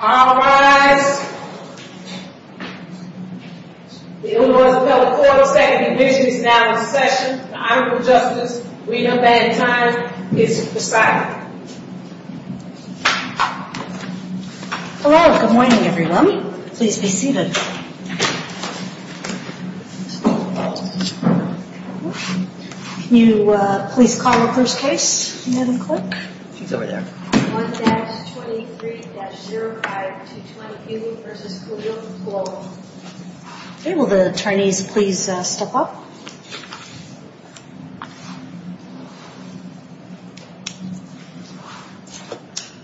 All rise. The U.S. Appellate Court of Second Division is now in session. The Honorable Justice Rita Van Tine is presiding. Hello, good morning everyone. Please be seated. Can you please call the first case? May I have the clerk? She's over there. 1-23-0522 versus Kahill and Sloan. Okay, will the attorneys please step up?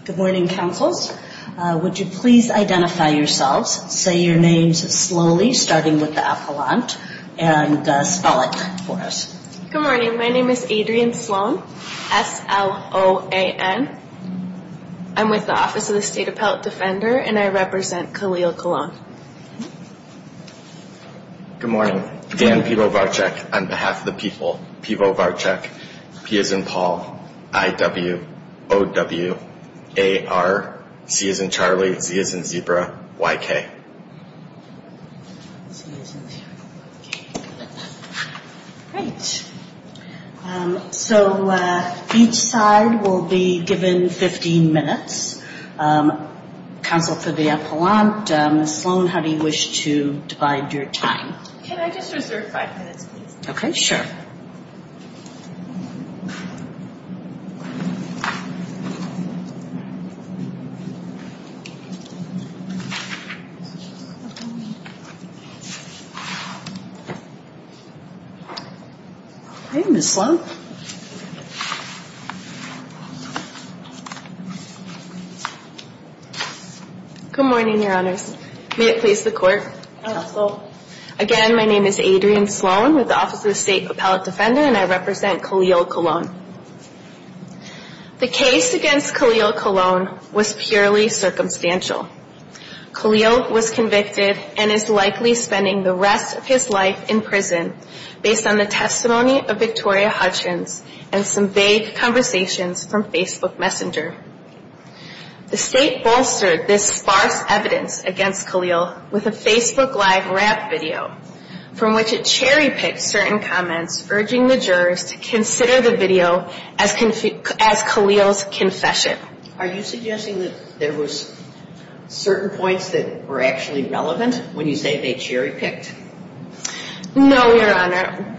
Good morning, counsels. Would you please identify yourselves? Say your names slowly, starting with the appellant, and spell it for us. Good morning. My name is Adrienne Sloan, S-L-O-A-N. I'm with the Office of the State Appellate Defender, and I represent Khalil Kahlon. Good morning. Dan Pivovarchuk on behalf of the people. Pivovarchuk, P as in Paul, I-W, O-W, A-R, C as in Charlie, Z as in Zebra, Y-K. Great. So each side will be given 15 minutes. Counsel for the appellant, Ms. Sloan, how do you wish to divide your time? Can I just reserve five minutes, please? Okay, sure. Okay, Ms. Sloan. Good morning, Your Honors. May it please the Court? Again, my name is Adrienne Sloan with the Office of the State Appellate Defender, and I represent Khalil Kahlon. The case against Khalil Kahlon was purely circumstantial. Khalil was convicted and is likely spending the rest of his life in prison based on the testimony of Victoria Hutchins and some vague conversations from Facebook Messenger. The State bolstered this sparse evidence against Khalil with a Facebook Live rap video from which it cherry-picked certain comments, urging the jurors to consider the video as Khalil's confession. Are you suggesting that there was certain points that were actually relevant when you say they cherry-picked? No, Your Honor.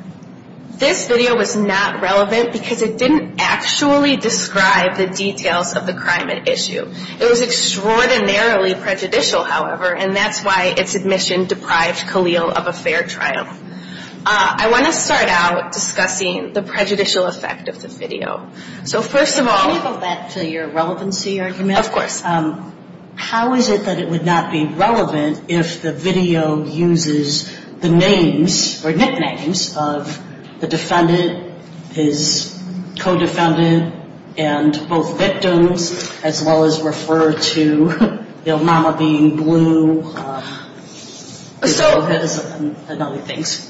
This video was not relevant because it didn't actually describe the details of the crime at issue. It was extraordinarily prejudicial, however, and that's why its admission deprived Khalil of a fair trial. I want to start out discussing the prejudicial effect of the video. So first of all... Can you go back to your relevancy argument? Of course. How is it that it would not be relevant if the video uses the names or nicknames of the defendant, his co-defendant, and both victims, as well as refer to, you know, mama being blue, and other things?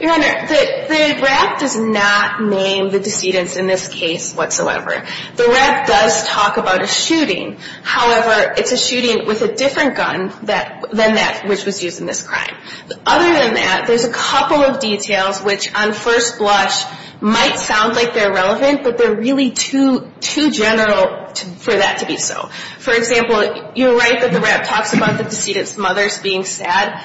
Your Honor, the rap does not name the decedents in this case whatsoever. The rap does talk about a shooting. However, it's a shooting with a different gun than that which was used in this crime. Other than that, there's a couple of details which on first blush might sound like they're relevant, but they're really too general for that to be so. For example, you're right that the rap talks about the decedent's mother being sad.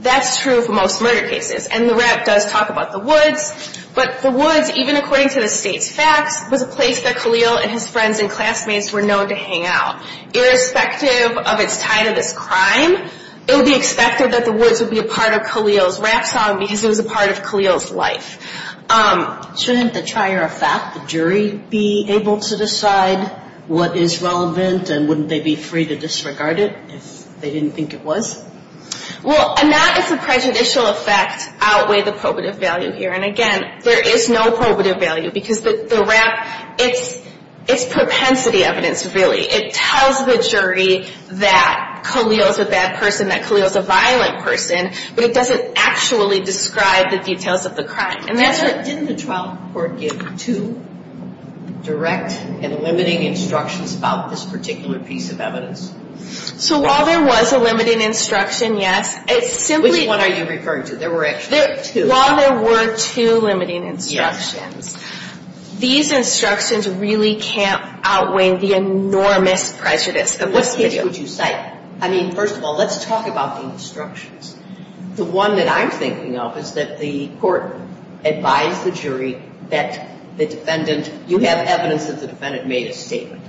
That's true for most murder cases. And the rap does talk about the woods, but the woods, even according to the state's facts, was a place that Khalil and his friends and classmates were known to hang out. Irrespective of its tie to this crime, it would be expected that the woods would be a part of Khalil's rap song because it was a part of Khalil's life. Shouldn't the trier of fact, the jury, be able to decide what is relevant, and wouldn't they be free to disregard it if they didn't think it was? Well, not as a prejudicial effect outweigh the probative value here. And again, there is no probative value because the rap, it's propensity evidence, really. It tells the jury that Khalil's a bad person, that Khalil's a violent person, but it doesn't actually describe the details of the crime. Didn't the trial court give two direct and limiting instructions about this particular piece of evidence? So while there was a limiting instruction, yes. Which one are you referring to? There were actually two. While there were two limiting instructions, these instructions really can't outweigh the enormous prejudice of this video. Which case would you cite? I mean, first of all, let's talk about the instructions. The one that I'm thinking of is that the court advised the jury that the defendant, you have evidence that the defendant made a statement.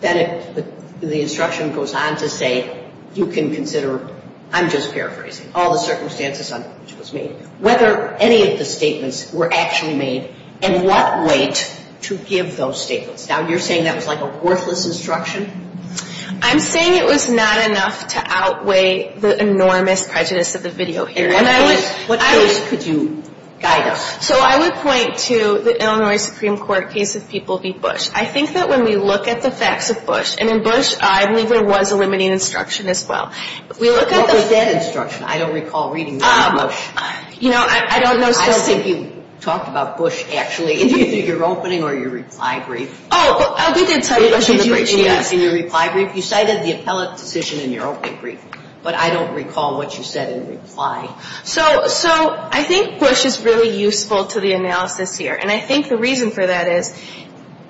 Then the instruction goes on to say, you can consider, I'm just paraphrasing, all the circumstances under which it was made, whether any of the statements were actually made, and what weight to give those statements. Now, you're saying that was like a worthless instruction? I'm saying it was not enough to outweigh the enormous prejudice of the video here. And what case could you guide us? So I would point to the Illinois Supreme Court case of People v. Bush. I think that when we look at the facts of Bush, and in Bush, I believe there was a limiting instruction as well. What was that instruction? I don't recall reading that in Bush. You know, I don't know. I think you talked about Bush, actually. Did you do your opening or your reply brief? Oh, we did cite Bush in the brief, yes. In your reply brief, you cited the appellate decision in your opening brief, but I don't recall what you said in reply. So I think Bush is really useful to the analysis here, and I think the reason for that is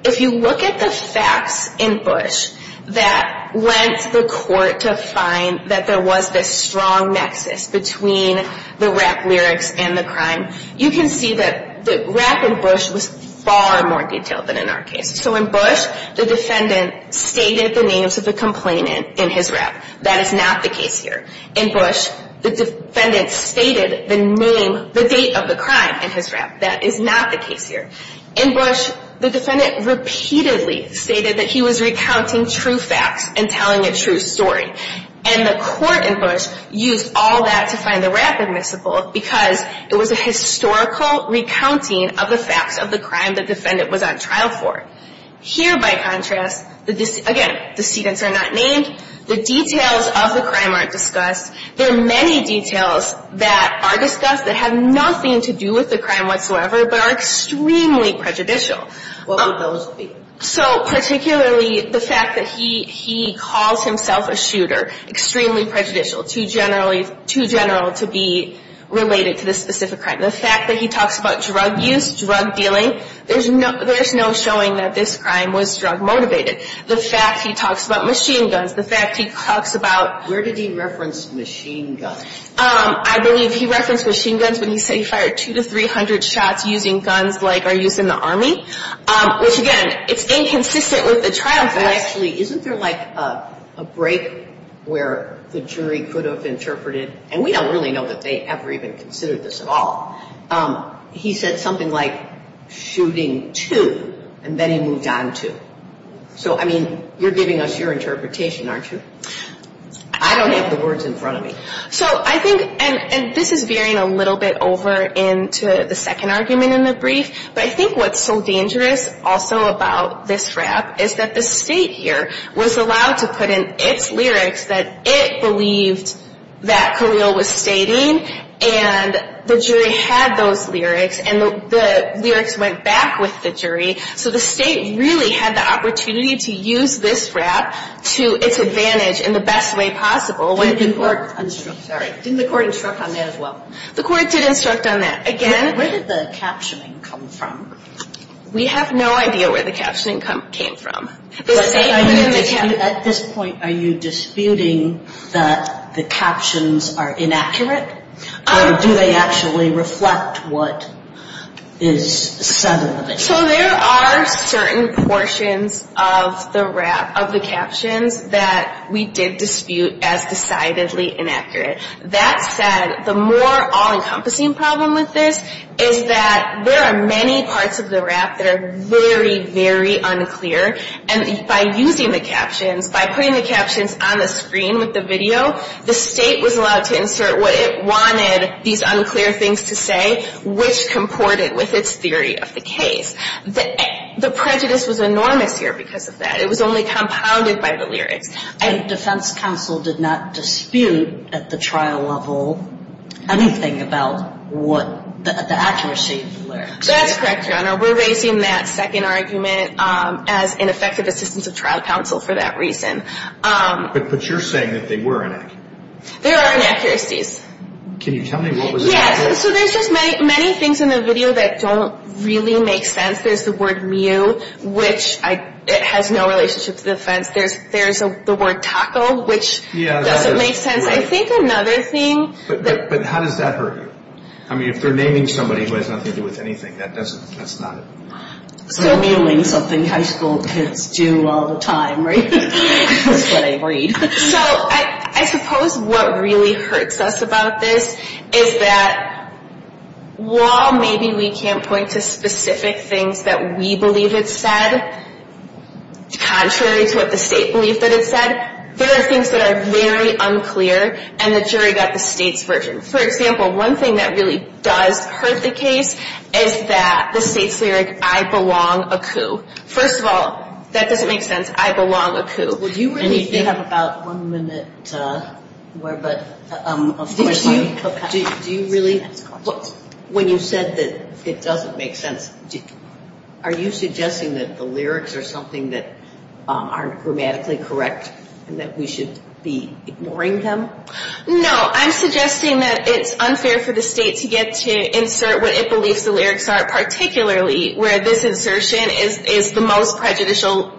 if you look at the facts in Bush that lent the court to find that there was this strong nexus between the rap lyrics and the crime, you can see that the rap in Bush was far more detailed than in our case. So in Bush, the defendant stated the names of the complainant in his rap. That is not the case here. In Bush, the defendant stated the name, the date of the crime in his rap. That is not the case here. In Bush, the defendant repeatedly stated that he was recounting true facts and telling a true story, and the court in Bush used all that to find the rap admissible because it was a historical recounting of the facts of the crime the defendant was on trial for. Here, by contrast, again, decedents are not named. The details of the crime aren't discussed. There are many details that are discussed that have nothing to do with the crime whatsoever but are extremely prejudicial. What would those be? So particularly the fact that he calls himself a shooter, extremely prejudicial, too general to be related to this specific crime. The fact that he talks about drug use, drug dealing, there's no showing that this crime was drug motivated. The fact he talks about machine guns, the fact he talks about... Where did he reference machine guns? I believe he referenced machine guns when he said he fired 200 to 300 shots using guns like are used in the Army, which, again, it's inconsistent with the trial. Actually, isn't there like a break where the jury could have interpreted, and we don't really know that they ever even considered this at all, he said something like shooting two and then he moved on two. So, I mean, you're giving us your interpretation, aren't you? I don't have the words in front of me. So I think, and this is veering a little bit over into the second argument in the brief, but I think what's so dangerous also about this rap is that the state here was allowed to put in its lyrics that it believed that Carrillo was stating, and the jury had those lyrics, and the lyrics went back with the jury, so the state really had the opportunity to use this rap to its advantage in the best way possible. Didn't the court instruct on that as well? The court did instruct on that. Where did the captioning come from? We have no idea where the captioning came from. At this point, are you disputing that the captions are inaccurate, or do they actually reflect what is said in the video? So there are certain portions of the captions that we did dispute as decidedly inaccurate. That said, the more all-encompassing problem with this is that there are many parts of the rap that are very, very unclear, and by using the captions, by putting the captions on the screen with the video, the state was allowed to insert what it wanted these unclear things to say, which comported with its theory of the case. The prejudice was enormous here because of that. It was only compounded by the lyrics. And defense counsel did not dispute at the trial level anything about the accuracy of the lyrics. That's correct, Your Honor. We're raising that second argument as ineffective assistance of trial counsel for that reason. But you're saying that they were inaccurate. There are inaccuracies. Can you tell me what was inaccurate? Yeah, so there's just many things in the video that don't really make sense. There's the word mew, which has no relationship to the offense. There's the word taco, which doesn't make sense. I think another thing. But how does that hurt you? I mean, if they're naming somebody who has nothing to do with anything, that's not it. Mewing is something high school kids do all the time, right? That's what I read. So I suppose what really hurts us about this is that while maybe we can't point to specific things that we believe it said, contrary to what the state believed that it said, there are things that are very unclear, and the jury got the state's version. For example, one thing that really does hurt the case is that the state's lyric, I belong a coup. First of all, that doesn't make sense. I belong a coup. Would you really think about one minute more? Do you really? When you said that it doesn't make sense, are you suggesting that the lyrics are something that aren't grammatically correct and that we should be ignoring them? No, I'm suggesting that it's unfair for the state to get to insert what it believes the lyrics are, particularly where this insertion is the most prejudicial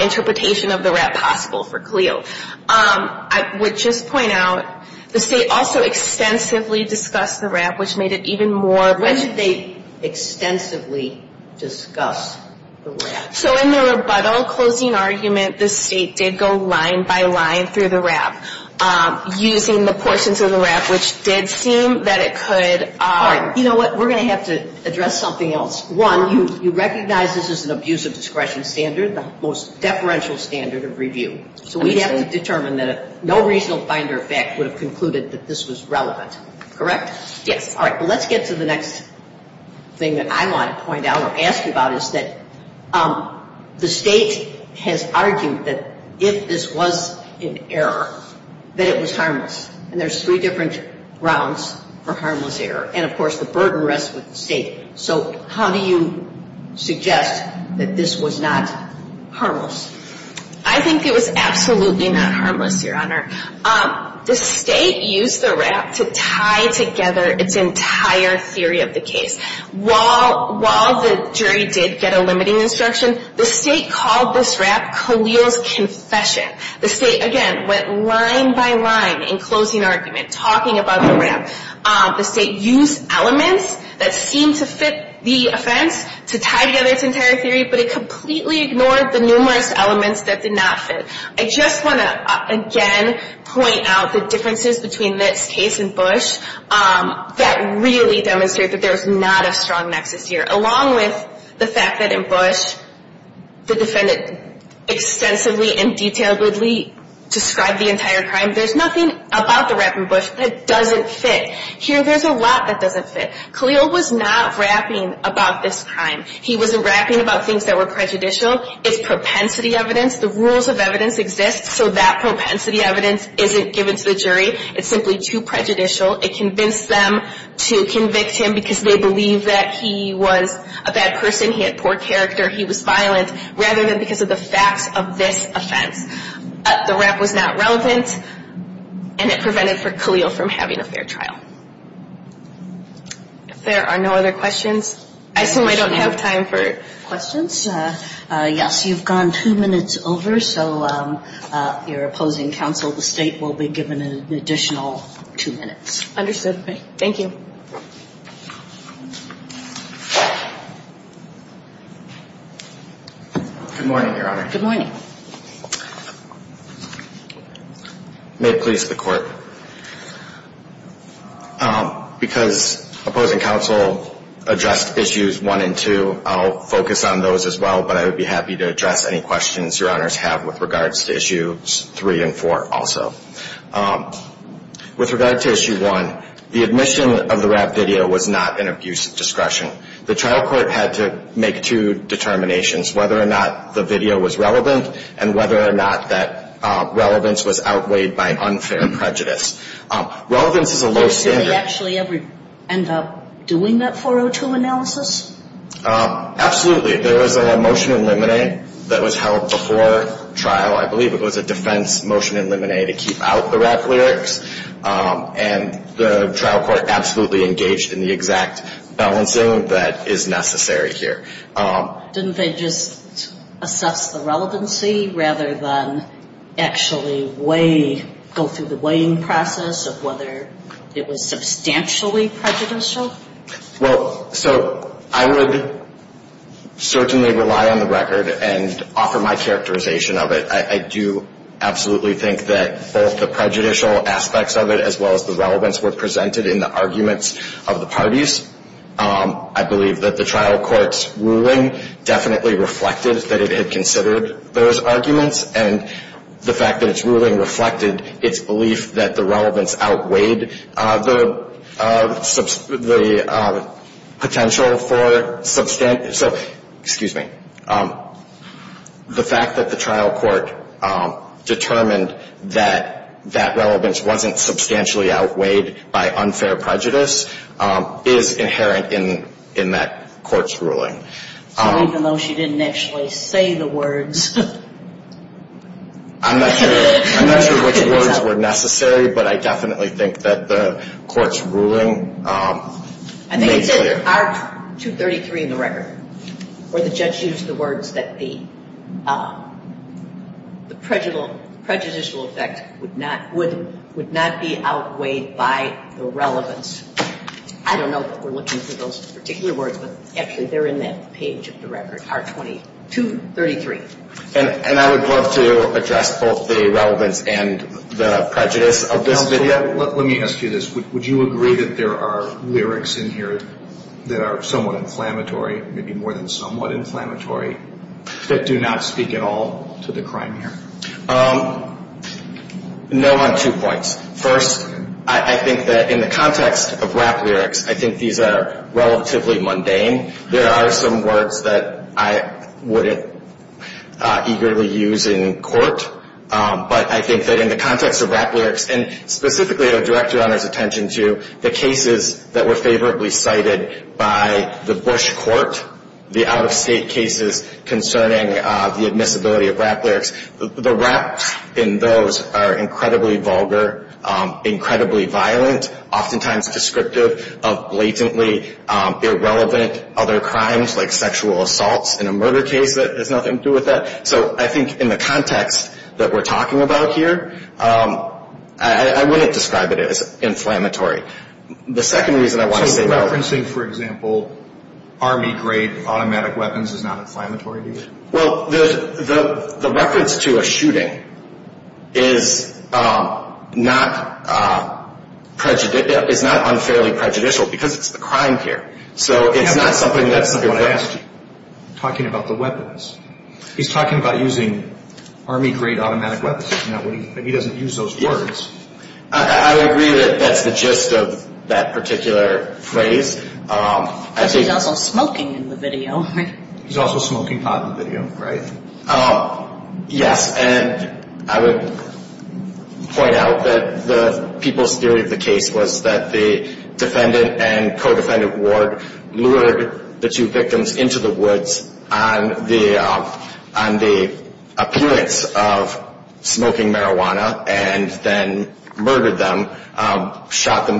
interpretation of the rap possible for Khalil. I would just point out the state also extensively discussed the rap, which made it even more. When did they extensively discuss the rap? So in the rebuttal closing argument, the state did go line by line through the rap, using the portions of the rap which did seem that it could. You know what? We're going to have to address something else. One, you recognize this as an abuse of discretion standard, the most deferential standard of review. So we have to determine that no reasonable finder of fact would have concluded that this was relevant. Correct? Yes. All right. Well, let's get to the next thing that I want to point out or ask about is that the state has argued that if this was an error, that it was harmless. And there's three different grounds for harmless error. And, of course, the burden rests with the state. So how do you suggest that this was not harmless? I think it was absolutely not harmless, Your Honor. The state used the rap to tie together its entire theory of the case. While the jury did get a limiting instruction, the state called this rap Khalil's confession. The state, again, went line by line in closing argument, talking about the rap. The state used elements that seemed to fit the offense to tie together its entire theory, but it completely ignored the numerous elements that did not fit. I just want to, again, point out the differences between this case and Bush that really demonstrate that there is not a strong nexus here. Along with the fact that in Bush the defendant extensively and detailedly described the entire crime, there's nothing about the rap in Bush that doesn't fit. Here there's a lot that doesn't fit. Khalil was not rapping about this crime. He wasn't rapping about things that were prejudicial. It's propensity evidence. The rules of evidence exist, so that propensity evidence isn't given to the jury. It's simply too prejudicial. It convinced them to convict him because they believe that he was a bad person, he had poor character, he was violent, rather than because of the facts of this offense. The rap was not relevant, and it prevented for Khalil from having a fair trial. If there are no other questions, I assume I don't have time for questions. Yes, you've gone two minutes over, so your opposing counsel, the State, will be given an additional two minutes. Understood. Thank you. Good morning, Your Honor. Good morning. May it please the Court. Because opposing counsel addressed issues one and two, I'll focus on those as well, but I would be happy to address any questions Your Honors have with regards to issues three and four also. With regard to issue one, the admission of the rap video was not an abuse of discretion. The trial court had to make two determinations, whether or not the video was relevant and whether or not that relevance was outweighed by unfair prejudice. Relevance is a low standard. Did they actually end up doing that 402 analysis? Absolutely. There was a motion in limine that was held before trial. I believe it was a defense motion in limine to keep out the rap lyrics, and the trial court absolutely engaged in the exact balancing that is necessary here. Didn't they just assess the relevancy rather than actually weigh, go through the weighing process of whether it was substantially prejudicial? Well, so I would certainly rely on the record and offer my characterization of it. I do absolutely think that both the prejudicial aspects of it as well as the relevance were presented in the arguments of the parties. I believe that the trial court's ruling definitely reflected that it had considered those arguments, and the fact that its ruling reflected its belief that the relevance outweighed the potential for substantial. So, excuse me, the fact that the trial court determined that that relevance wasn't substantially outweighed by unfair prejudice is inherent in that court's ruling. So even though she didn't actually say the words. I'm not sure which words were necessary, but I definitely think that the court's ruling made clear. I think it said in Art 233 in the record where the judge used the words that the prejudicial effect would not be outweighed by the relevance. I don't know that we're looking for those particular words, but actually they're in that page of the record, Art 2233. And I would love to address both the relevance and the prejudice of this video. Let me ask you this. Would you agree that there are lyrics in here that are somewhat inflammatory, maybe more than somewhat inflammatory, that do not speak at all to the crime here? No on two points. First, I think that in the context of rap lyrics, I think these are relatively mundane. There are some words that I wouldn't eagerly use in court, but I think that in the context of rap lyrics, and specifically I would direct your Honor's attention to the cases that were favorably cited by the Bush court, the out-of-state cases concerning the admissibility of rap lyrics, the raps in those are incredibly vulgar, incredibly violent, oftentimes descriptive of blatantly irrelevant other crimes like sexual assaults in a murder case that has nothing to do with that. So I think in the context that we're talking about here, I wouldn't describe it as inflammatory. So referencing, for example, army-grade automatic weapons is not inflammatory to you? Well, the reference to a shooting is not unfairly prejudicial because it's the crime here. So it's not something that's – That's not what I asked you, talking about the weapons. He's talking about using army-grade automatic weapons. He doesn't use those words. I would agree that that's the gist of that particular phrase. But he's also smoking in the video. He's also smoking pot in the video, right? Yes, and I would point out that the people's theory of the case was that the defendant and co-defendant Ward lured the two victims into the woods on the appearance of smoking marijuana and then murdered them, shot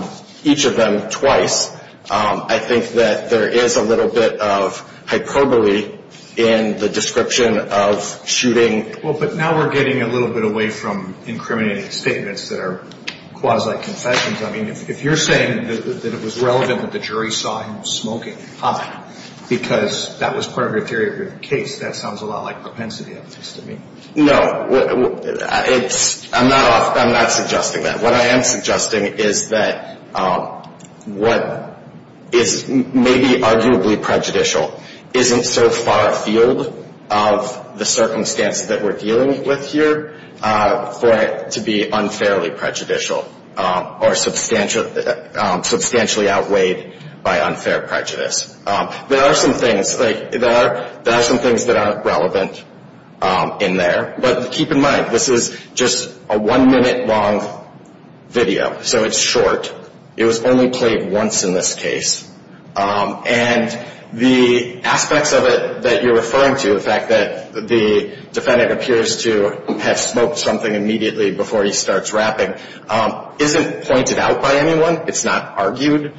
each of them twice. I think that there is a little bit of hyperbole in the description of shooting. Well, but now we're getting a little bit away from incriminating statements that are quasi-confessions. I mean, if you're saying that it was relevant that the jury saw him smoking pot because that was part of your theory of the case, that sounds a lot like propensity ethics to me. No, I'm not suggesting that. What I am suggesting is that what is maybe arguably prejudicial isn't so far afield of the circumstances that we're dealing with here for it to be unfairly prejudicial or substantially outweighed by unfair prejudice. There are some things that are relevant in there, but keep in mind this is just a one-minute long video, so it's short. It was only played once in this case, and the aspects of it that you're referring to, the fact that the defendant appears to have smoked something immediately before he starts rapping, isn't pointed out by anyone, it's not argued.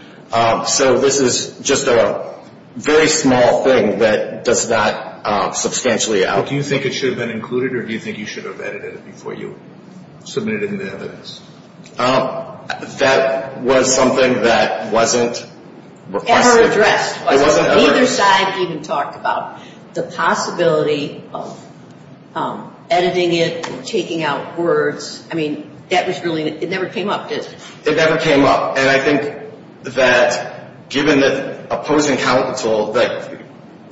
So this is just a very small thing that does not substantially outweigh it. Do you think it should have been included, or do you think you should have edited it before you submitted it in the evidence? That was something that wasn't requested. It wasn't ever addressed. It wasn't ever addressed. Neither side even talked about the possibility of editing it or taking out words. I mean, that was really, it never came up. It never came up, and I think that given that opposing counsel,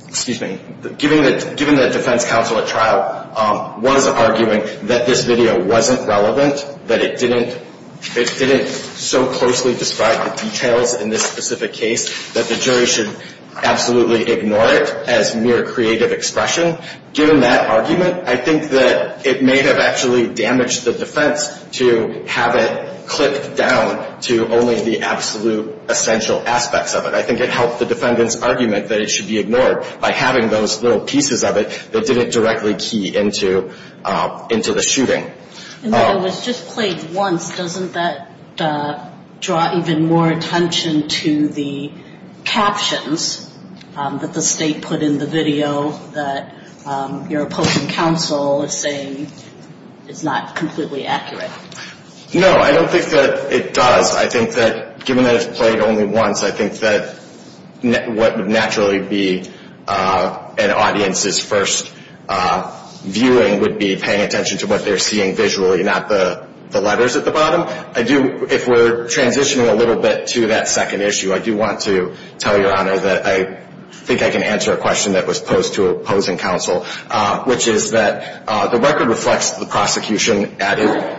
excuse me, given that defense counsel at trial was arguing that this video wasn't relevant, that it didn't so closely describe the details in this specific case, that the jury should absolutely ignore it as mere creative expression, given that argument, I think that it may have actually damaged the defense to have it clipped down to only the absolute essential aspects of it. I think it helped the defendant's argument that it should be ignored by having those little pieces of it that didn't directly key into the shooting. And that it was just played once, doesn't that draw even more attention to the captions that the State put in the video that your opposing counsel is saying is not completely accurate? No, I don't think that it does. I think that given that it's played only once, I think that what would naturally be an audience's first viewing would be paying attention to what they're seeing visually, not the letters at the bottom. If we're transitioning a little bit to that second issue, I do want to tell Your Honor that I think I can answer a question that was posed to opposing counsel, which is that the record reflects the prosecution added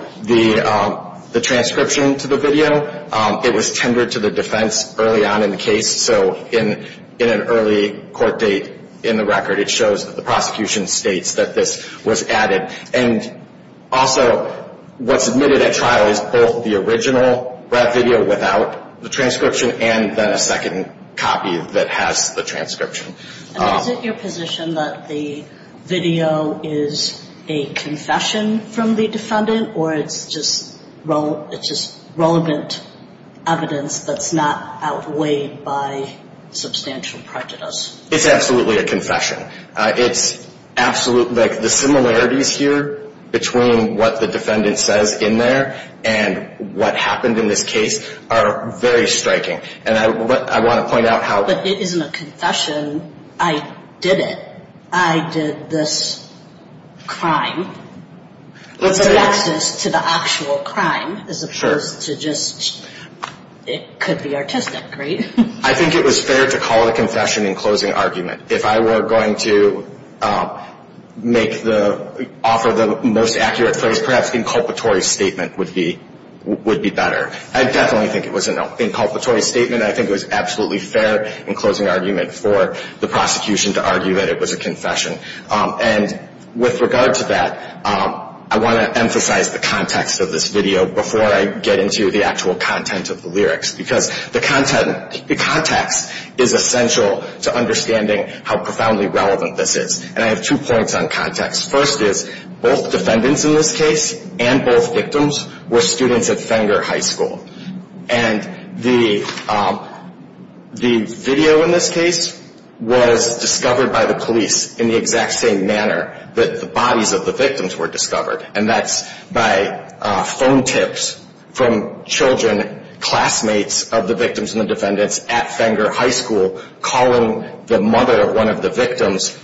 the transcription to the video. It was tendered to the defense early on in the case, so in an early court date in the record it shows that the prosecution states that this was added. And also what's admitted at trial is both the original rap video without the transcription and then a second copy that has the transcription. Is it your position that the video is a confession from the defendant or it's just relevant evidence that's not outweighed by substantial prejudice? It's absolutely a confession. The similarities here between what the defendant says in there and what happened in this case are very striking. But it isn't a confession. I did it. I did this crime. It's an access to the actual crime as opposed to just it could be artistic, right? I think it was fair to call it a confession in closing argument. If I were going to offer the most accurate phrase, perhaps inculpatory statement would be better. I definitely think it was an inculpatory statement. I think it was absolutely fair in closing argument for the prosecution to argue that it was a confession. And with regard to that, I want to emphasize the context of this video before I get into the actual content of the lyrics, because the context is essential to understanding how profoundly relevant this is. And I have two points on context. First is both defendants in this case and both victims were students at Fenger High School. And the video in this case was discovered by the police in the exact same manner that the bodies of the victims were discovered, and that's by phone tips from children, classmates of the victims and the defendants at Fenger High School, calling the mother of one of the victims,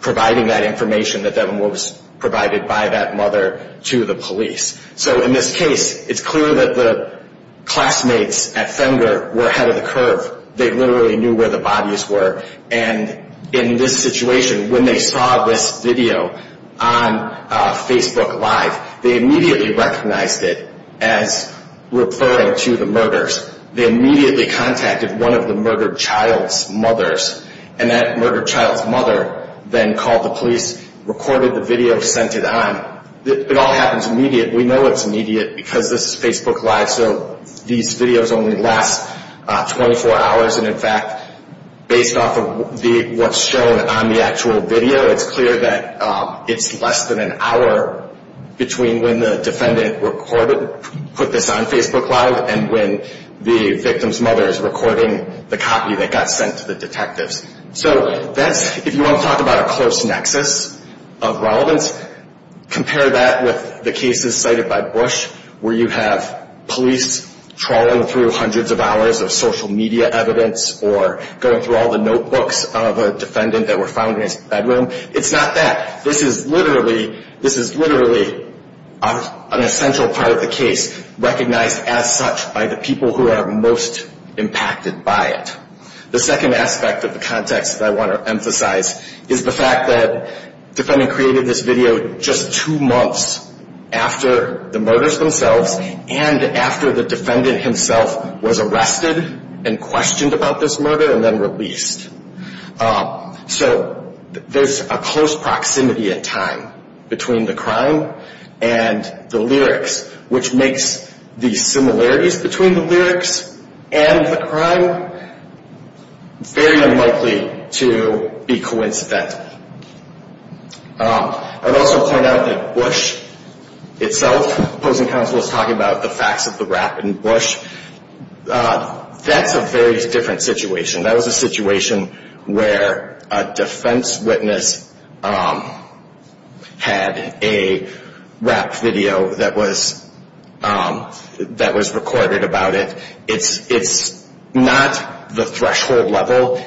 providing that information that then was provided by that mother to the police. So in this case, it's clear that the classmates at Fenger were ahead of the curve. They literally knew where the bodies were. And in this situation, when they saw this video on Facebook Live, they immediately recognized it as referring to the murders. They immediately contacted one of the murdered child's mothers, and that murdered child's mother then called the police, recorded the video, sent it on. It all happens immediate. We know it's immediate because this is Facebook Live, so these videos only last 24 hours. And, in fact, based off of what's shown on the actual video, it's clear that it's less than an hour between when the defendant put this on Facebook Live and when the victim's mother is recording the copy that got sent to the detectives. So if you want to talk about a close nexus of relevance, compare that with the cases cited by Bush, where you have police trawling through hundreds of hours of social media evidence or going through all the notebooks of a defendant that were found in his bedroom. It's not that. This is literally an essential part of the case, recognized as such by the people who are most impacted by it. The second aspect of the context that I want to emphasize is the fact that the defendant created this video just two months after the murders themselves and after the defendant himself was arrested and questioned about this murder and then released. So there's a close proximity in time between the crime and the lyrics, which makes the similarities between the lyrics and the crime very unlikely to be coincidental. I'd also point out that Bush itself, opposing counsel is talking about the facts of the rap in Bush. That's a very different situation. That was a situation where a defense witness had a rap video that was recorded about it. It's not the threshold level.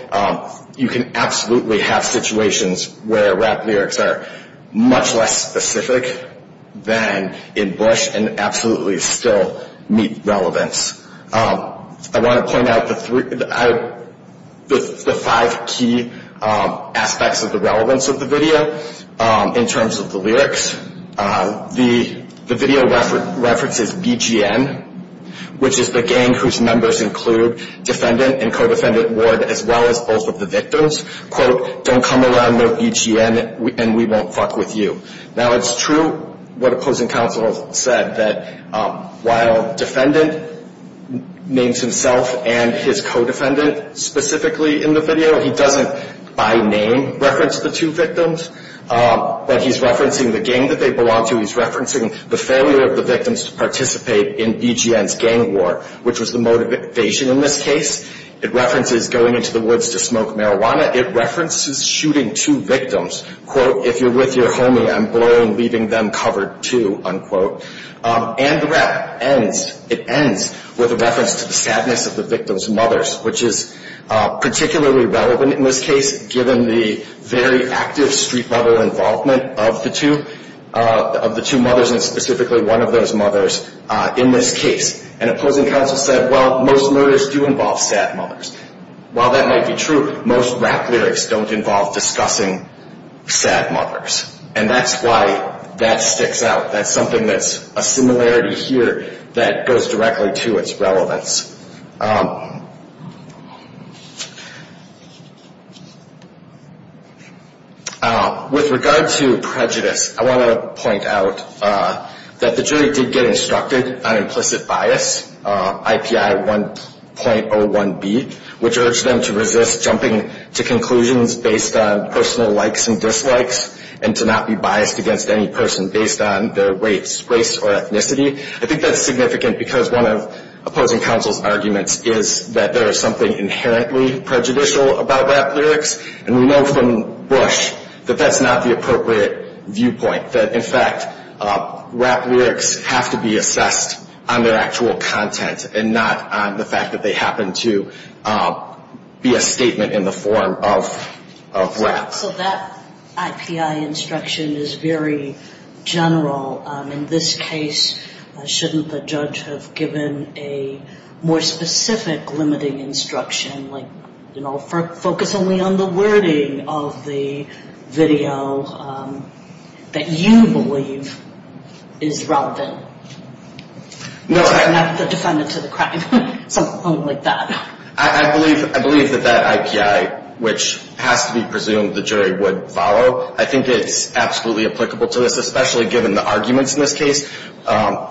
You can absolutely have situations where rap lyrics are much less specific than in Bush and absolutely still meet relevance. I want to point out the five key aspects of the relevance of the video in terms of the lyrics. The video references BGN, which is the gang whose members include defendant and co-defendant Ward as well as both of the victims. Quote, don't come around no BGN and we won't fuck with you. Now it's true what opposing counsel said that while defendant names himself and his co-defendant specifically in the video, he doesn't by name reference the two victims, but he's referencing the gang that they belong to. He's referencing the failure of the victims to participate in BGN's gang war, which was the motivation in this case. It references going into the woods to smoke marijuana. It references shooting two victims. Quote, if you're with your homie, I'm blown leaving them covered too, unquote. And the rap ends, it ends with a reference to the sadness of the victims' mothers, which is particularly relevant in this case given the very active street level involvement of the two mothers and specifically one of those mothers in this case. And opposing counsel said, well, most murders do involve sad mothers. While that might be true, most rap lyrics don't involve discussing sad mothers. And that's why that sticks out. That's something that's a similarity here that goes directly to its relevance. With regard to prejudice, I want to point out that the jury did get instructed on implicit bias, IPI 1.01B, which urged them to resist jumping to conclusions based on personal likes and dislikes and to not be biased against any person based on their race or ethnicity. I think that's significant because one of opposing counsel's arguments is that there is something inherently prejudicial about rap lyrics. And we know from Bush that that's not the appropriate viewpoint, that in fact rap lyrics have to be assessed on their actual content and not on the fact that they happen to be a statement in the form of rap. So that IPI instruction is very general. In this case, shouldn't the judge have given a more specific limiting instruction, like focus only on the wording of the video that you believe is relevant? Not the defendant to the crime, something like that. I believe that that IPI, which has to be presumed the jury would follow, I think it's absolutely applicable to this, especially given the arguments in this case,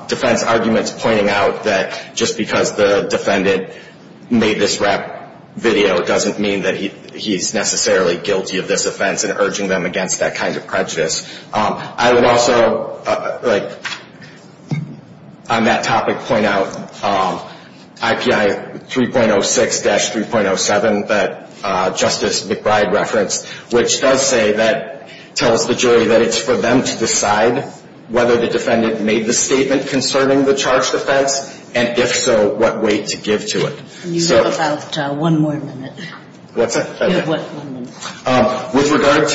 defense arguments pointing out that just because the defendant made this rap video doesn't mean that he's necessarily guilty of this offense and urging them against that kind of prejudice. I would also, on that topic, point out IPI 3.06-3.07 that Justice McBride referenced, which does say that, tells the jury that it's for them to decide whether the defendant made the statement concerning the charged offense, and if so, what weight to give to it. You have about one more minute. What's that? You have one minute. With regard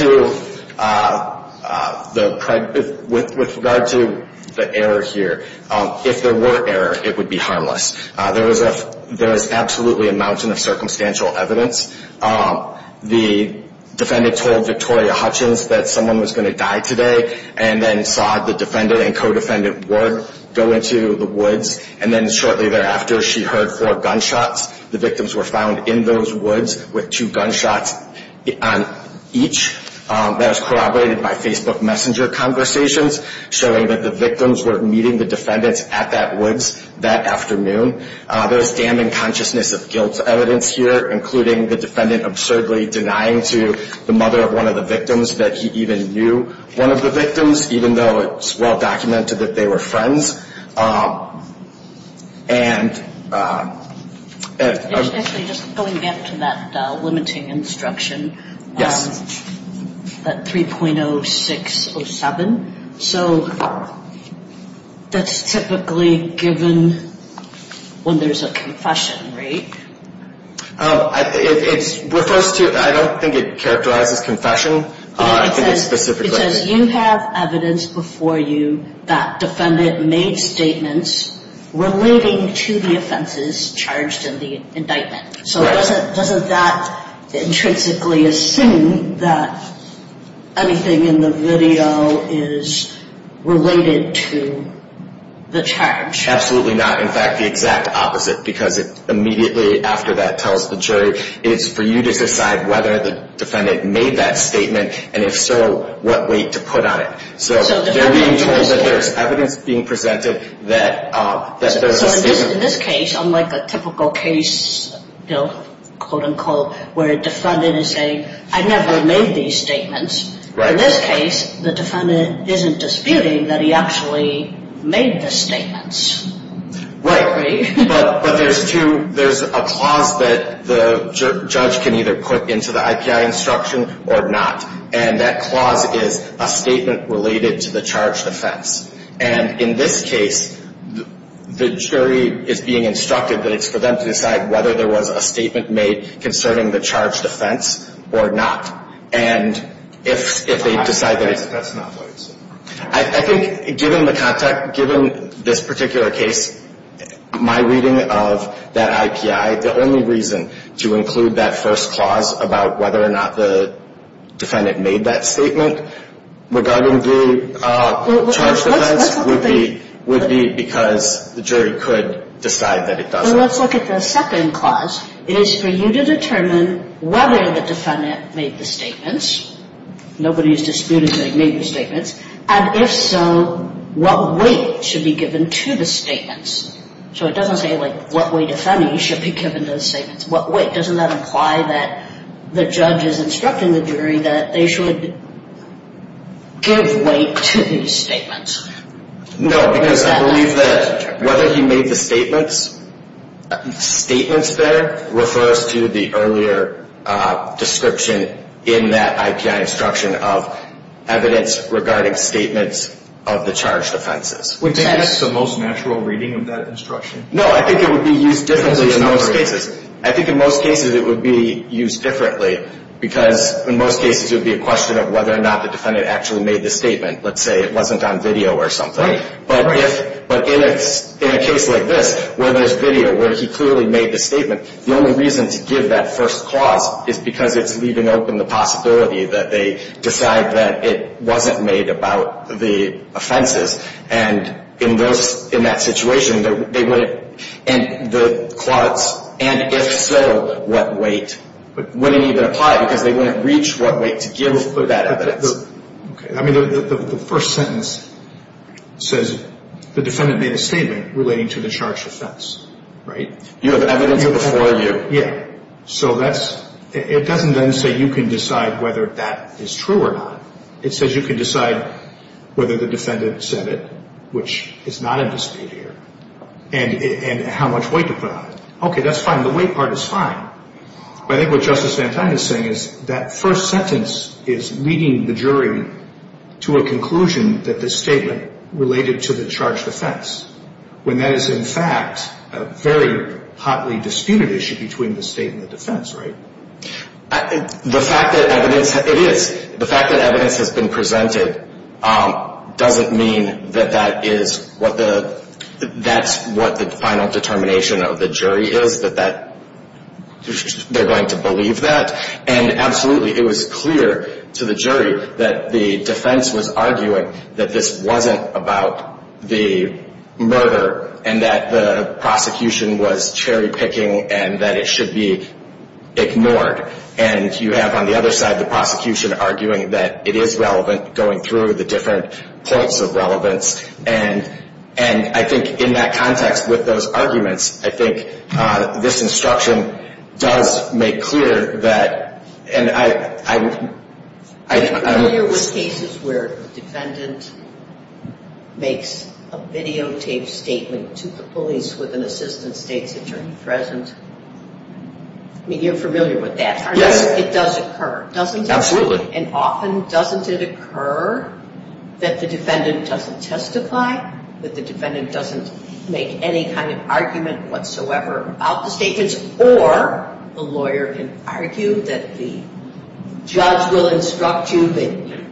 to the error here, if there were error, it would be harmless. There is absolutely a mountain of circumstantial evidence. The defendant told Victoria Hutchins that someone was going to die today and then saw the defendant and co-defendant Ward go into the woods, and then shortly thereafter she heard four gunshots. The victims were found in those woods with two gunshots on each. That was corroborated by Facebook Messenger conversations showing that the victims were meeting the defendants at that woods that afternoon. There is damning consciousness of guilt evidence here, including the defendant absurdly denying to the mother of one of the victims that he even knew one of the victims, even though it's well-documented that they were friends. Actually, just going back to that limiting instruction, that 3.0607, so that's typically given when there's a confession, right? I don't think it characterizes confession. It says you have evidence before you that defendant made statements relating to the offenses charged in the indictment. So doesn't that intrinsically assume that anything in the video is related to the charge? Absolutely not. In fact, the exact opposite, because immediately after that tells the jury, it's for you to decide whether the defendant made that statement, and if so, what weight to put on it. So they're being told that there's evidence being presented that there's a statement. In this case, unlike a typical case bill, quote-unquote, where a defendant is saying, I never made these statements, in this case the defendant isn't disputing that he actually made the statements. Right. But there's a clause that the judge can either put into the IPI instruction or not, and that clause is a statement related to the charged offense. And in this case, the jury is being instructed that it's for them to decide whether there was a statement made concerning the charged offense or not. And if they decide that it's not. I think given the context, given this particular case, my reading of that IPI, the only reason to include that first clause about whether or not the defendant made that statement regarding the charged offense would be because the jury could decide that it doesn't. Well, let's look at the second clause. It is for you to determine whether the defendant made the statements, nobody is disputing that he made the statements, and if so, what weight should be given to the statements. So it doesn't say, like, what weight, if any, should be given to the statements. What weight? Doesn't that imply that the judge is instructing the jury that they should give weight to the statements? No, because I believe that whether he made the statements there refers to the earlier description in that IPI instruction of evidence regarding statements of the charged offenses. Would that be the most natural reading of that instruction? No, I think it would be used differently in most cases. I think in most cases it would be used differently because in most cases it would be a question of whether or not the defendant actually made the statement. Let's say it wasn't on video or something. Right, right. But in a case like this where there's video, where he clearly made the statement, the only reason to give that first clause is because it's leaving open the possibility that they decide that it wasn't made about the offenses, and in that situation they wouldn't, and the clause, and if so, what weight, wouldn't even apply because they wouldn't reach what weight to give that evidence. Okay. I mean, the first sentence says the defendant made a statement relating to the charged offense, right? You have evidence before you. Yeah. So that's, it doesn't then say you can decide whether that is true or not. It says you can decide whether the defendant said it, which is not in dispute here, and how much weight to put on it. Okay, that's fine. The weight part is fine. But I think what Justice Van Tine is saying is that first sentence is leading the jury to a conclusion that this statement related to the charged offense, when that is in fact a very hotly disputed issue between the state and the defense, right? The fact that evidence, it is. The fact that evidence has been presented doesn't mean that that is what the, that's what the final determination of the jury is, that they're going to believe that. And absolutely, it was clear to the jury that the defense was arguing that this wasn't about the murder and that the prosecution was cherry picking and that it should be ignored. And you have on the other side the prosecution arguing that it is relevant, going through the different points of relevance. And I think in that context with those arguments, I think this instruction does make clear that, and I don't know. Are you familiar with cases where the defendant makes a videotaped statement to the police with an assistant state's attorney present? I mean, you're familiar with that, aren't you? Yes. It does occur, doesn't it? Absolutely. And often doesn't it occur that the defendant doesn't testify, that the defendant doesn't make any kind of argument whatsoever about the statements, or the lawyer can argue that the judge will instruct you that you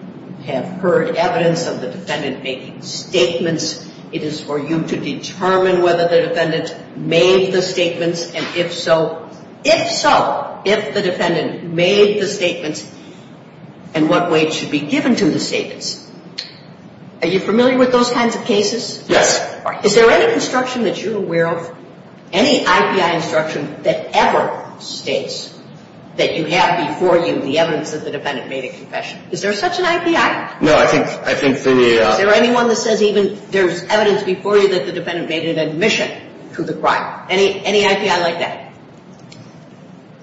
have heard evidence of the defendant making statements. It is for you to determine whether the defendant made the statements, and if so, if the defendant made the statements and what weight should be given to the statements. Are you familiar with those kinds of cases? Yes. Is there any instruction that you're aware of, any IPI instruction, that ever states that you have before you the evidence that the defendant made a confession? Is there such an IPI? No. Is there anyone that says even there's evidence before you that the defendant made an admission to the crime? Any IPI like that?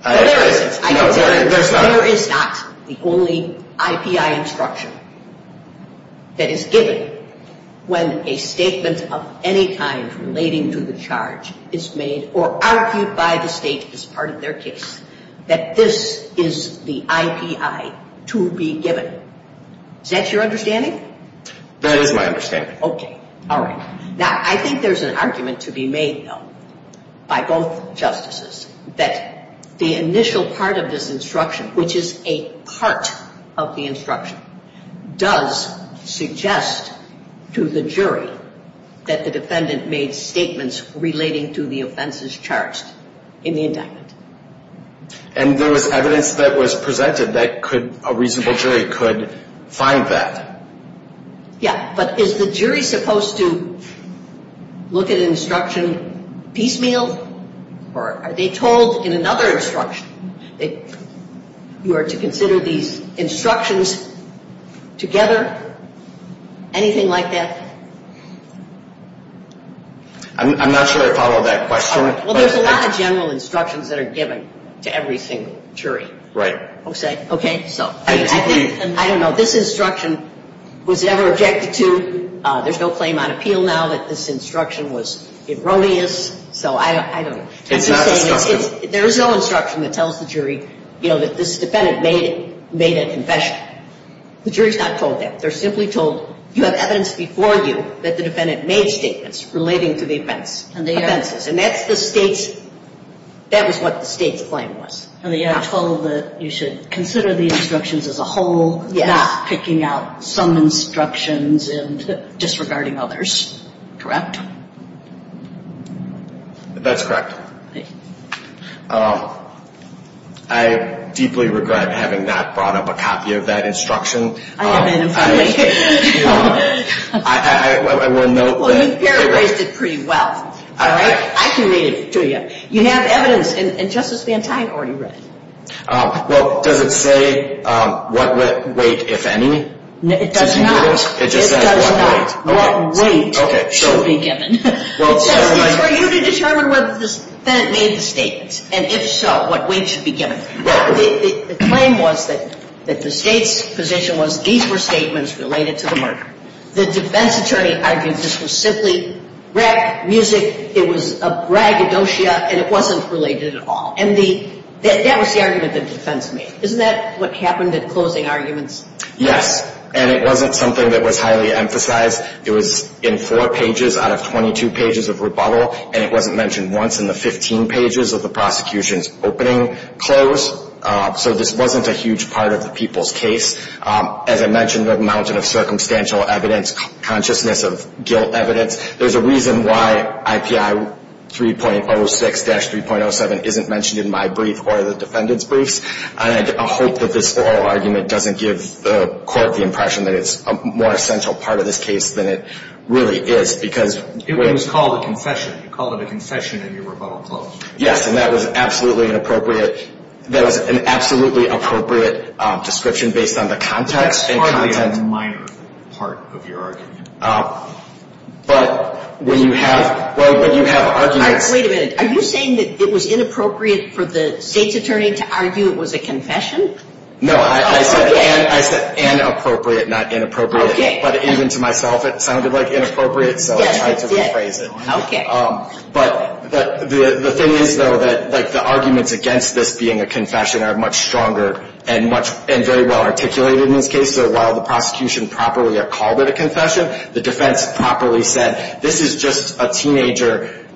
No, there isn't. There is not. There is not the only IPI instruction that is given when a statement of any kind relating to the charge is made or argued by the state as part of their case, that this is the IPI to be given. Is that your understanding? That is my understanding. Okay. All right. Now, I think there's an argument to be made, though, by both justices, that the initial part of this instruction, which is a part of the instruction, does suggest to the jury that the defendant made statements relating to the offenses charged in the indictment. And there was evidence that was presented that a reasonable jury could find that. Yeah. But is the jury supposed to look at an instruction piecemeal? Or are they told in another instruction that you are to consider these instructions together? Anything like that? I'm not sure I follow that question. Well, there's a lot of general instructions that are given to every single jury. Right. Okay. So I think, I don't know, this instruction was never objected to. There's no claim on appeal now that this instruction was erroneous. So I don't know. There is no instruction that tells the jury, you know, that this defendant made a confession. The jury is not told that. They are simply told you have evidence before you that the defendant made statements relating to the offenses. And that's the state's, that was what the state's claim was. And they are told that you should consider the instructions as a whole. Yes. Not picking out some instructions and disregarding others. Correct? That's correct. Okay. I deeply regret having not brought up a copy of that instruction. I have that in front of me. I will note that. Well, you've paraphrased it pretty well. All right. I can read it to you. You have evidence. And Justice Van Tine already read it. Well, does it say what weight, if any? It does not. It just says what weight. What weight should be given. It says it's for you to determine whether this defendant made the statements. And if so, what weight should be given. The claim was that the state's position was these were statements related to the murder. The defense attorney argued this was simply rap music. It was a braggadocio, and it wasn't related at all. And that was the argument the defense made. Isn't that what happened at closing arguments? Yes. And it wasn't something that was highly emphasized. It was in four pages out of 22 pages of rebuttal. And it wasn't mentioned once in the 15 pages of the prosecution's opening close. So this wasn't a huge part of the people's case. As I mentioned, a mountain of circumstantial evidence, consciousness of guilt evidence. There's a reason why IPI 3.06-3.07 isn't mentioned in my brief or the defendant's briefs. And I hope that this oral argument doesn't give the court the impression that it's a more essential part of this case than it really is. It was called a confession. You called it a confession and your rebuttal closed. Yes, and that was an absolutely appropriate description based on the context and content. That's hardly a minor part of your argument. But when you have arguments. Wait a minute. Are you saying that it was inappropriate for the state's attorney to argue it was a confession? No, I said inappropriate, not inappropriate. But even to myself, it sounded like inappropriate, so I tried to rephrase it. Okay. But the thing is, though, that the arguments against this being a confession are much stronger and very well articulated in this case. So while the prosecution properly called it a confession, the defense properly said, this is just a teenager,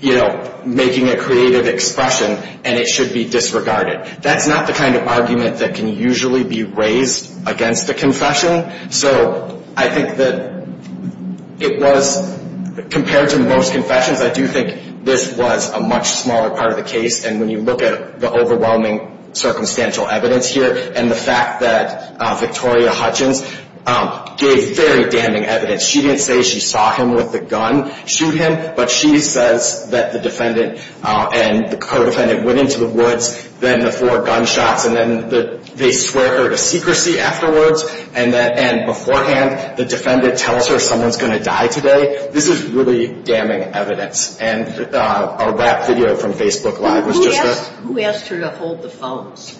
you know, making a creative expression, and it should be disregarded. That's not the kind of argument that can usually be raised against a confession. So I think that it was, compared to most confessions, I do think this was a much smaller part of the case. And when you look at the overwhelming circumstantial evidence here, and the fact that Victoria Hutchins gave very damning evidence. She didn't say she saw him with the gun shoot him, but she says that the defendant and the co-defendant went into the woods, then the four gunshots, and then they swear her to secrecy afterwards. And beforehand, the defendant tells her someone's going to die today. This is really damning evidence. And that video from Facebook Live was just the. Who asked her to hold the phones?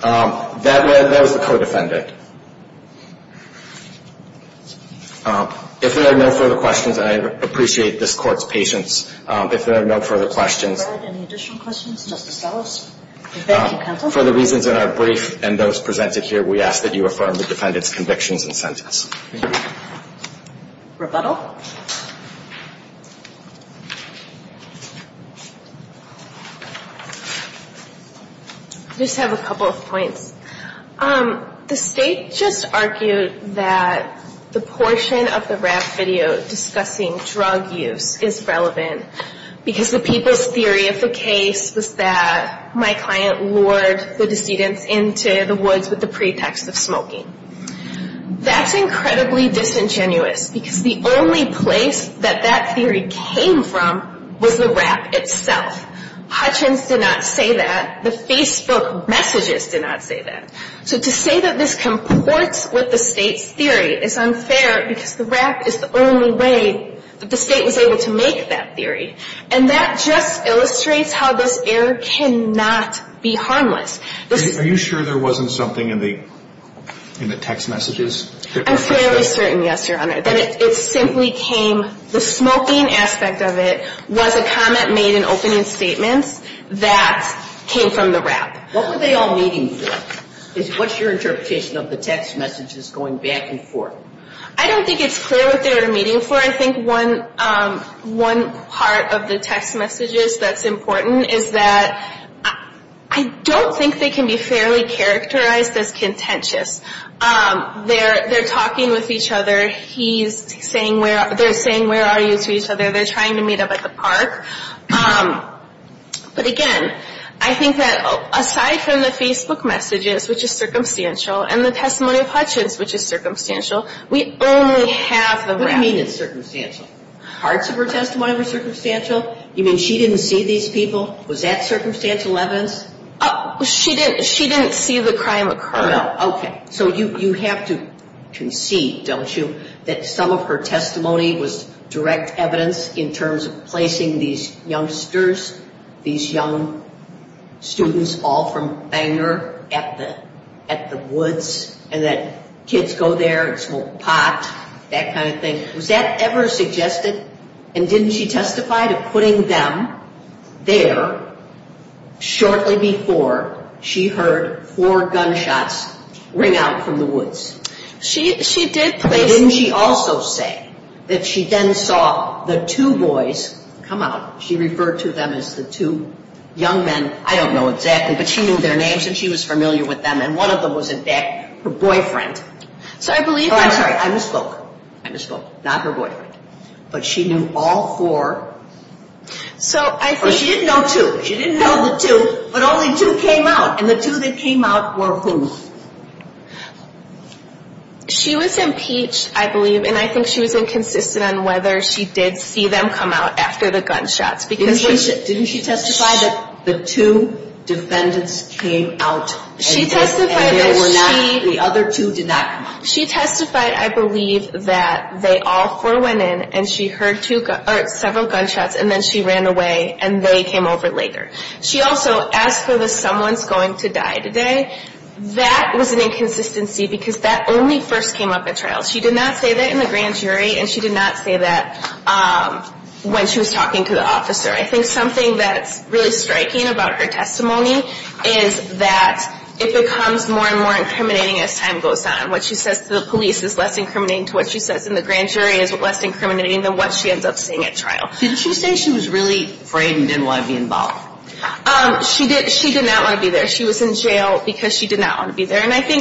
That was the co-defendant. If there are no further questions, and I appreciate this Court's patience. If there are no further questions. Any additional questions, Justice Ellis? For the reasons in our brief and those presented here, we ask that you affirm the defendant's convictions and sentence. Rebuttal. Rebuttal. I just have a couple of points. The State just argued that the portion of the rap video discussing drug use is relevant. Because the people's theory of the case was that my client lured the decedents into the woods with the pretext of smoking. That's incredibly disingenuous, because the only place that that theory came from was the rap itself. Hutchins did not say that. The Facebook messages did not say that. So to say that this comports with the State's theory is unfair, because the rap is the only way that the State was able to make that theory. And that just illustrates how this error cannot be harmless. Are you sure there wasn't something in the text messages? I'm fairly certain, yes, Your Honor. That it simply came, the smoking aspect of it was a comment made in opening statements that came from the rap. What were they all meeting for? What's your interpretation of the text messages going back and forth? I don't think it's clear what they were meeting for. Your Honor, I think one part of the text messages that's important is that I don't think they can be fairly characterized as contentious. They're talking with each other. They're saying, where are you, to each other. They're trying to meet up at the park. But again, I think that aside from the Facebook messages, which is circumstantial, and the testimony of Hutchins, which is circumstantial, we only have the rap. What do you mean it's circumstantial? Parts of her testimony were circumstantial? You mean she didn't see these people? Was that circumstantial evidence? She didn't see the crime occur. Okay. So you have to concede, don't you, that some of her testimony was direct evidence in terms of placing these youngsters, these young students all from Banger at the woods, and that kids go there and smoke pot, that kind of thing. Was that ever suggested? And didn't she testify to putting them there shortly before she heard four gunshots ring out from the woods? She did place them. I would also say that she then saw the two boys come out. She referred to them as the two young men. I don't know exactly, but she knew their names, and she was familiar with them. And one of them was, in fact, her boyfriend. I'm sorry. I misspoke. I misspoke. Not her boyfriend. But she knew all four. Or she didn't know two. She didn't know the two, but only two came out. And the two that came out were whom? She was impeached, I believe, and I think she was inconsistent on whether she did see them come out after the gunshots. Didn't she testify that the two defendants came out and they were not, the other two did not come out? She testified, I believe, that they all four went in, and she heard several gunshots, and then she ran away, and they came over later. She also asked whether someone's going to die today. That was an inconsistency, because that only first came up at trial. She did not say that in the grand jury, and she did not say that when she was talking to the officer. I think something that's really striking about her testimony is that it becomes more and more incriminating as time goes on. What she says to the police is less incriminating to what she says in the grand jury is less incriminating than what she ends up saying at trial. Didn't she say she was really afraid and didn't want to be involved? She did not want to be there. She was in jail because she did not want to be there. And I think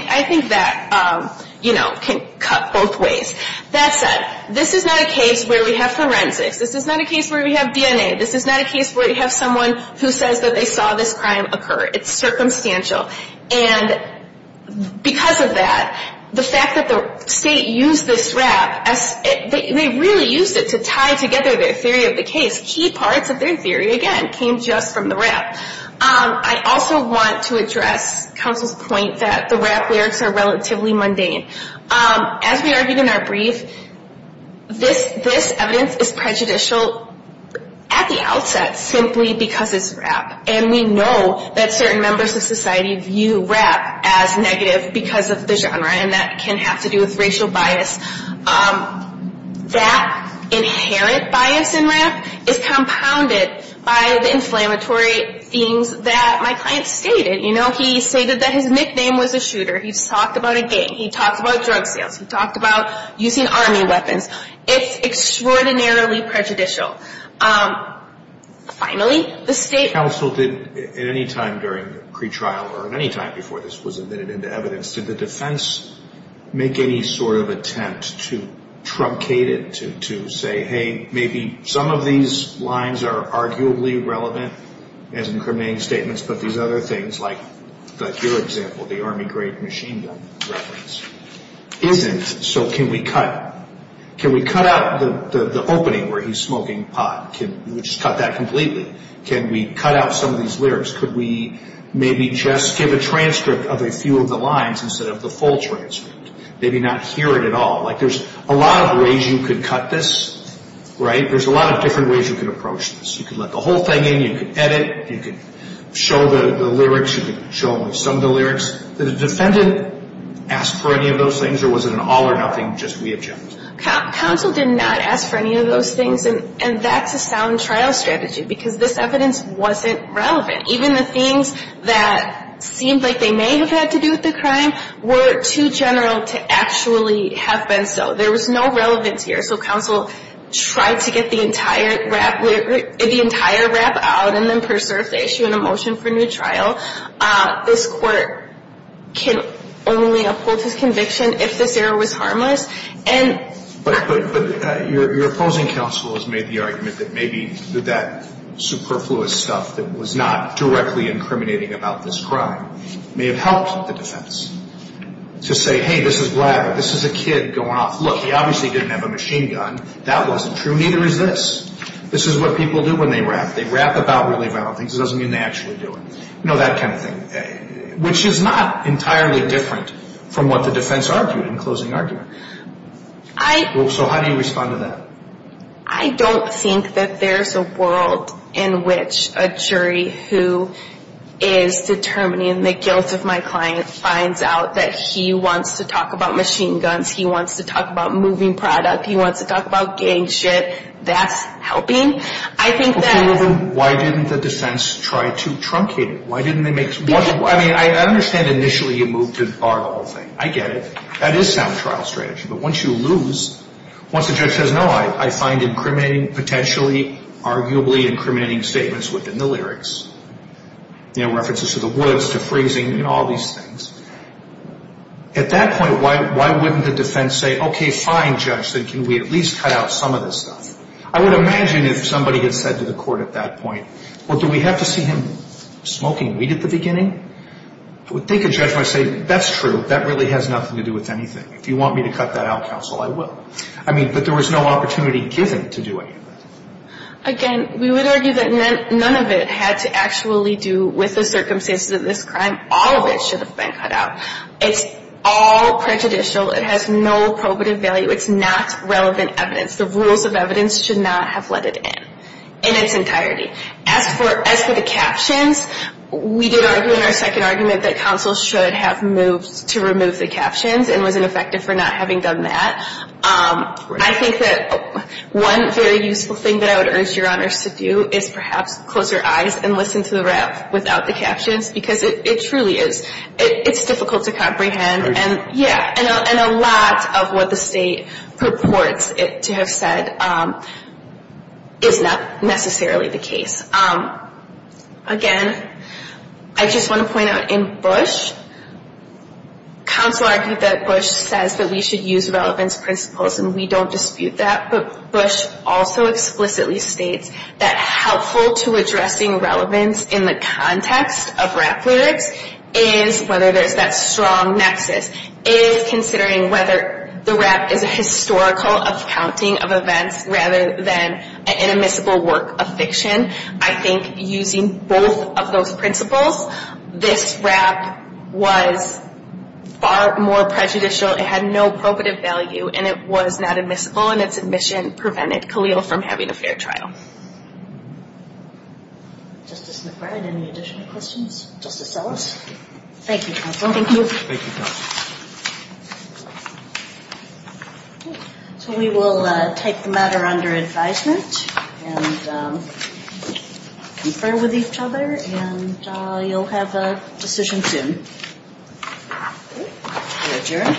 that, you know, can cut both ways. That said, this is not a case where we have forensics. This is not a case where we have DNA. This is not a case where we have someone who says that they saw this crime occur. It's circumstantial. And because of that, the fact that the state used this rap, they really used it to tie together their theory of the case. Key parts of their theory, again, came just from the rap. I also want to address counsel's point that the rap lyrics are relatively mundane. As we argued in our brief, this evidence is prejudicial at the outset simply because it's rap. And we know that certain members of society view rap as negative because of the genre. And that can have to do with racial bias. That inherent bias in rap is compounded by the inflammatory themes that my client stated. You know, he stated that his nickname was a shooter. He talked about a gang. He talked about drug sales. He talked about using army weapons. It's extraordinarily prejudicial. Finally, the state counsel did at any time during the pretrial or at any time before this was admitted into evidence, did the defense make any sort of attempt to truncate it, to say, hey, maybe some of these lines are arguably relevant as incriminating statements, but these other things like your example, the army grade machine gun reference, isn't. So can we cut it? Can we cut out the opening where he's smoking pot? Can we just cut that completely? Can we cut out some of these lyrics? Could we maybe just give a transcript of a few of the lines instead of the full transcript, maybe not hear it at all? Like there's a lot of ways you could cut this, right? There's a lot of different ways you could approach this. You could let the whole thing in. You could edit. You could show the lyrics. You could show only some of the lyrics. Did the defendant ask for any of those things, or was it an all-or-nothing just wee of jokes? Counsel did not ask for any of those things, and that's a sound trial strategy because this evidence wasn't relevant. Even the things that seemed like they may have had to do with the crime were too general to actually have been so. There was no relevance here, so counsel tried to get the entire rap out and then preserve the issue in a motion for new trial. This court can only uphold his conviction if this error was harmless. But your opposing counsel has made the argument that maybe that superfluous stuff that was not directly incriminating about this crime may have helped the defense to say, hey, this is blabber. This is a kid going off. Look, he obviously didn't have a machine gun. That wasn't true. Neither is this. This is what people do when they rap. They rap about really violent things. You know, that kind of thing, which is not entirely different from what the defense argued in closing argument. So how do you respond to that? I don't think that there's a world in which a jury who is determining the guilt of my client finds out that he wants to talk about machine guns, he wants to talk about moving product, he wants to talk about gang shit, that's helping. Why didn't the defense try to truncate it? I mean, I understand initially you moved to bar the whole thing. I get it. That is sound trial strategy. But once you lose, once the judge says, no, I find incriminating, potentially arguably incriminating statements within the lyrics, you know, references to the words, to phrasing, you know, all these things, at that point, why wouldn't the defense say, okay, fine, judge, then can we at least cut out some of this stuff? I would imagine if somebody had said to the court at that point, well, do we have to see him smoking weed at the beginning? I would think a judge might say, that's true. That really has nothing to do with anything. If you want me to cut that out, counsel, I will. I mean, but there was no opportunity given to do any of that. Again, we would argue that none of it had to actually do with the circumstances of this crime. All of it should have been cut out. It's all prejudicial. It has no probative value. It's not relevant evidence. The rules of evidence should not have let it in, in its entirety. As for the captions, we did argue in our second argument that counsel should have moved to remove the captions and was ineffective for not having done that. I think that one very useful thing that I would urge your honors to do is perhaps close your eyes and listen to the rap without the captions because it truly is, it's difficult to comprehend. Yeah, and a lot of what the state purports it to have said is not necessarily the case. Again, I just want to point out in Bush, counsel argued that Bush says that we should use relevance principles and we don't dispute that, but Bush also explicitly states that helpful to addressing relevance in the context of rap lyrics is whether there's that strong nexus, is considering whether the rap is a historical accounting of events rather than an admissible work of fiction. I think using both of those principles, this rap was far more prejudicial. It had no probative value and it was not admissible and its admission prevented Khalil from having a fair trial. Justice McBride, any additional questions? Justice Ellis? Thank you, counsel. Thank you. Thank you, counsel. So we will type the matter under advisement and confer with each other and you'll have a decision soon. I adjourn.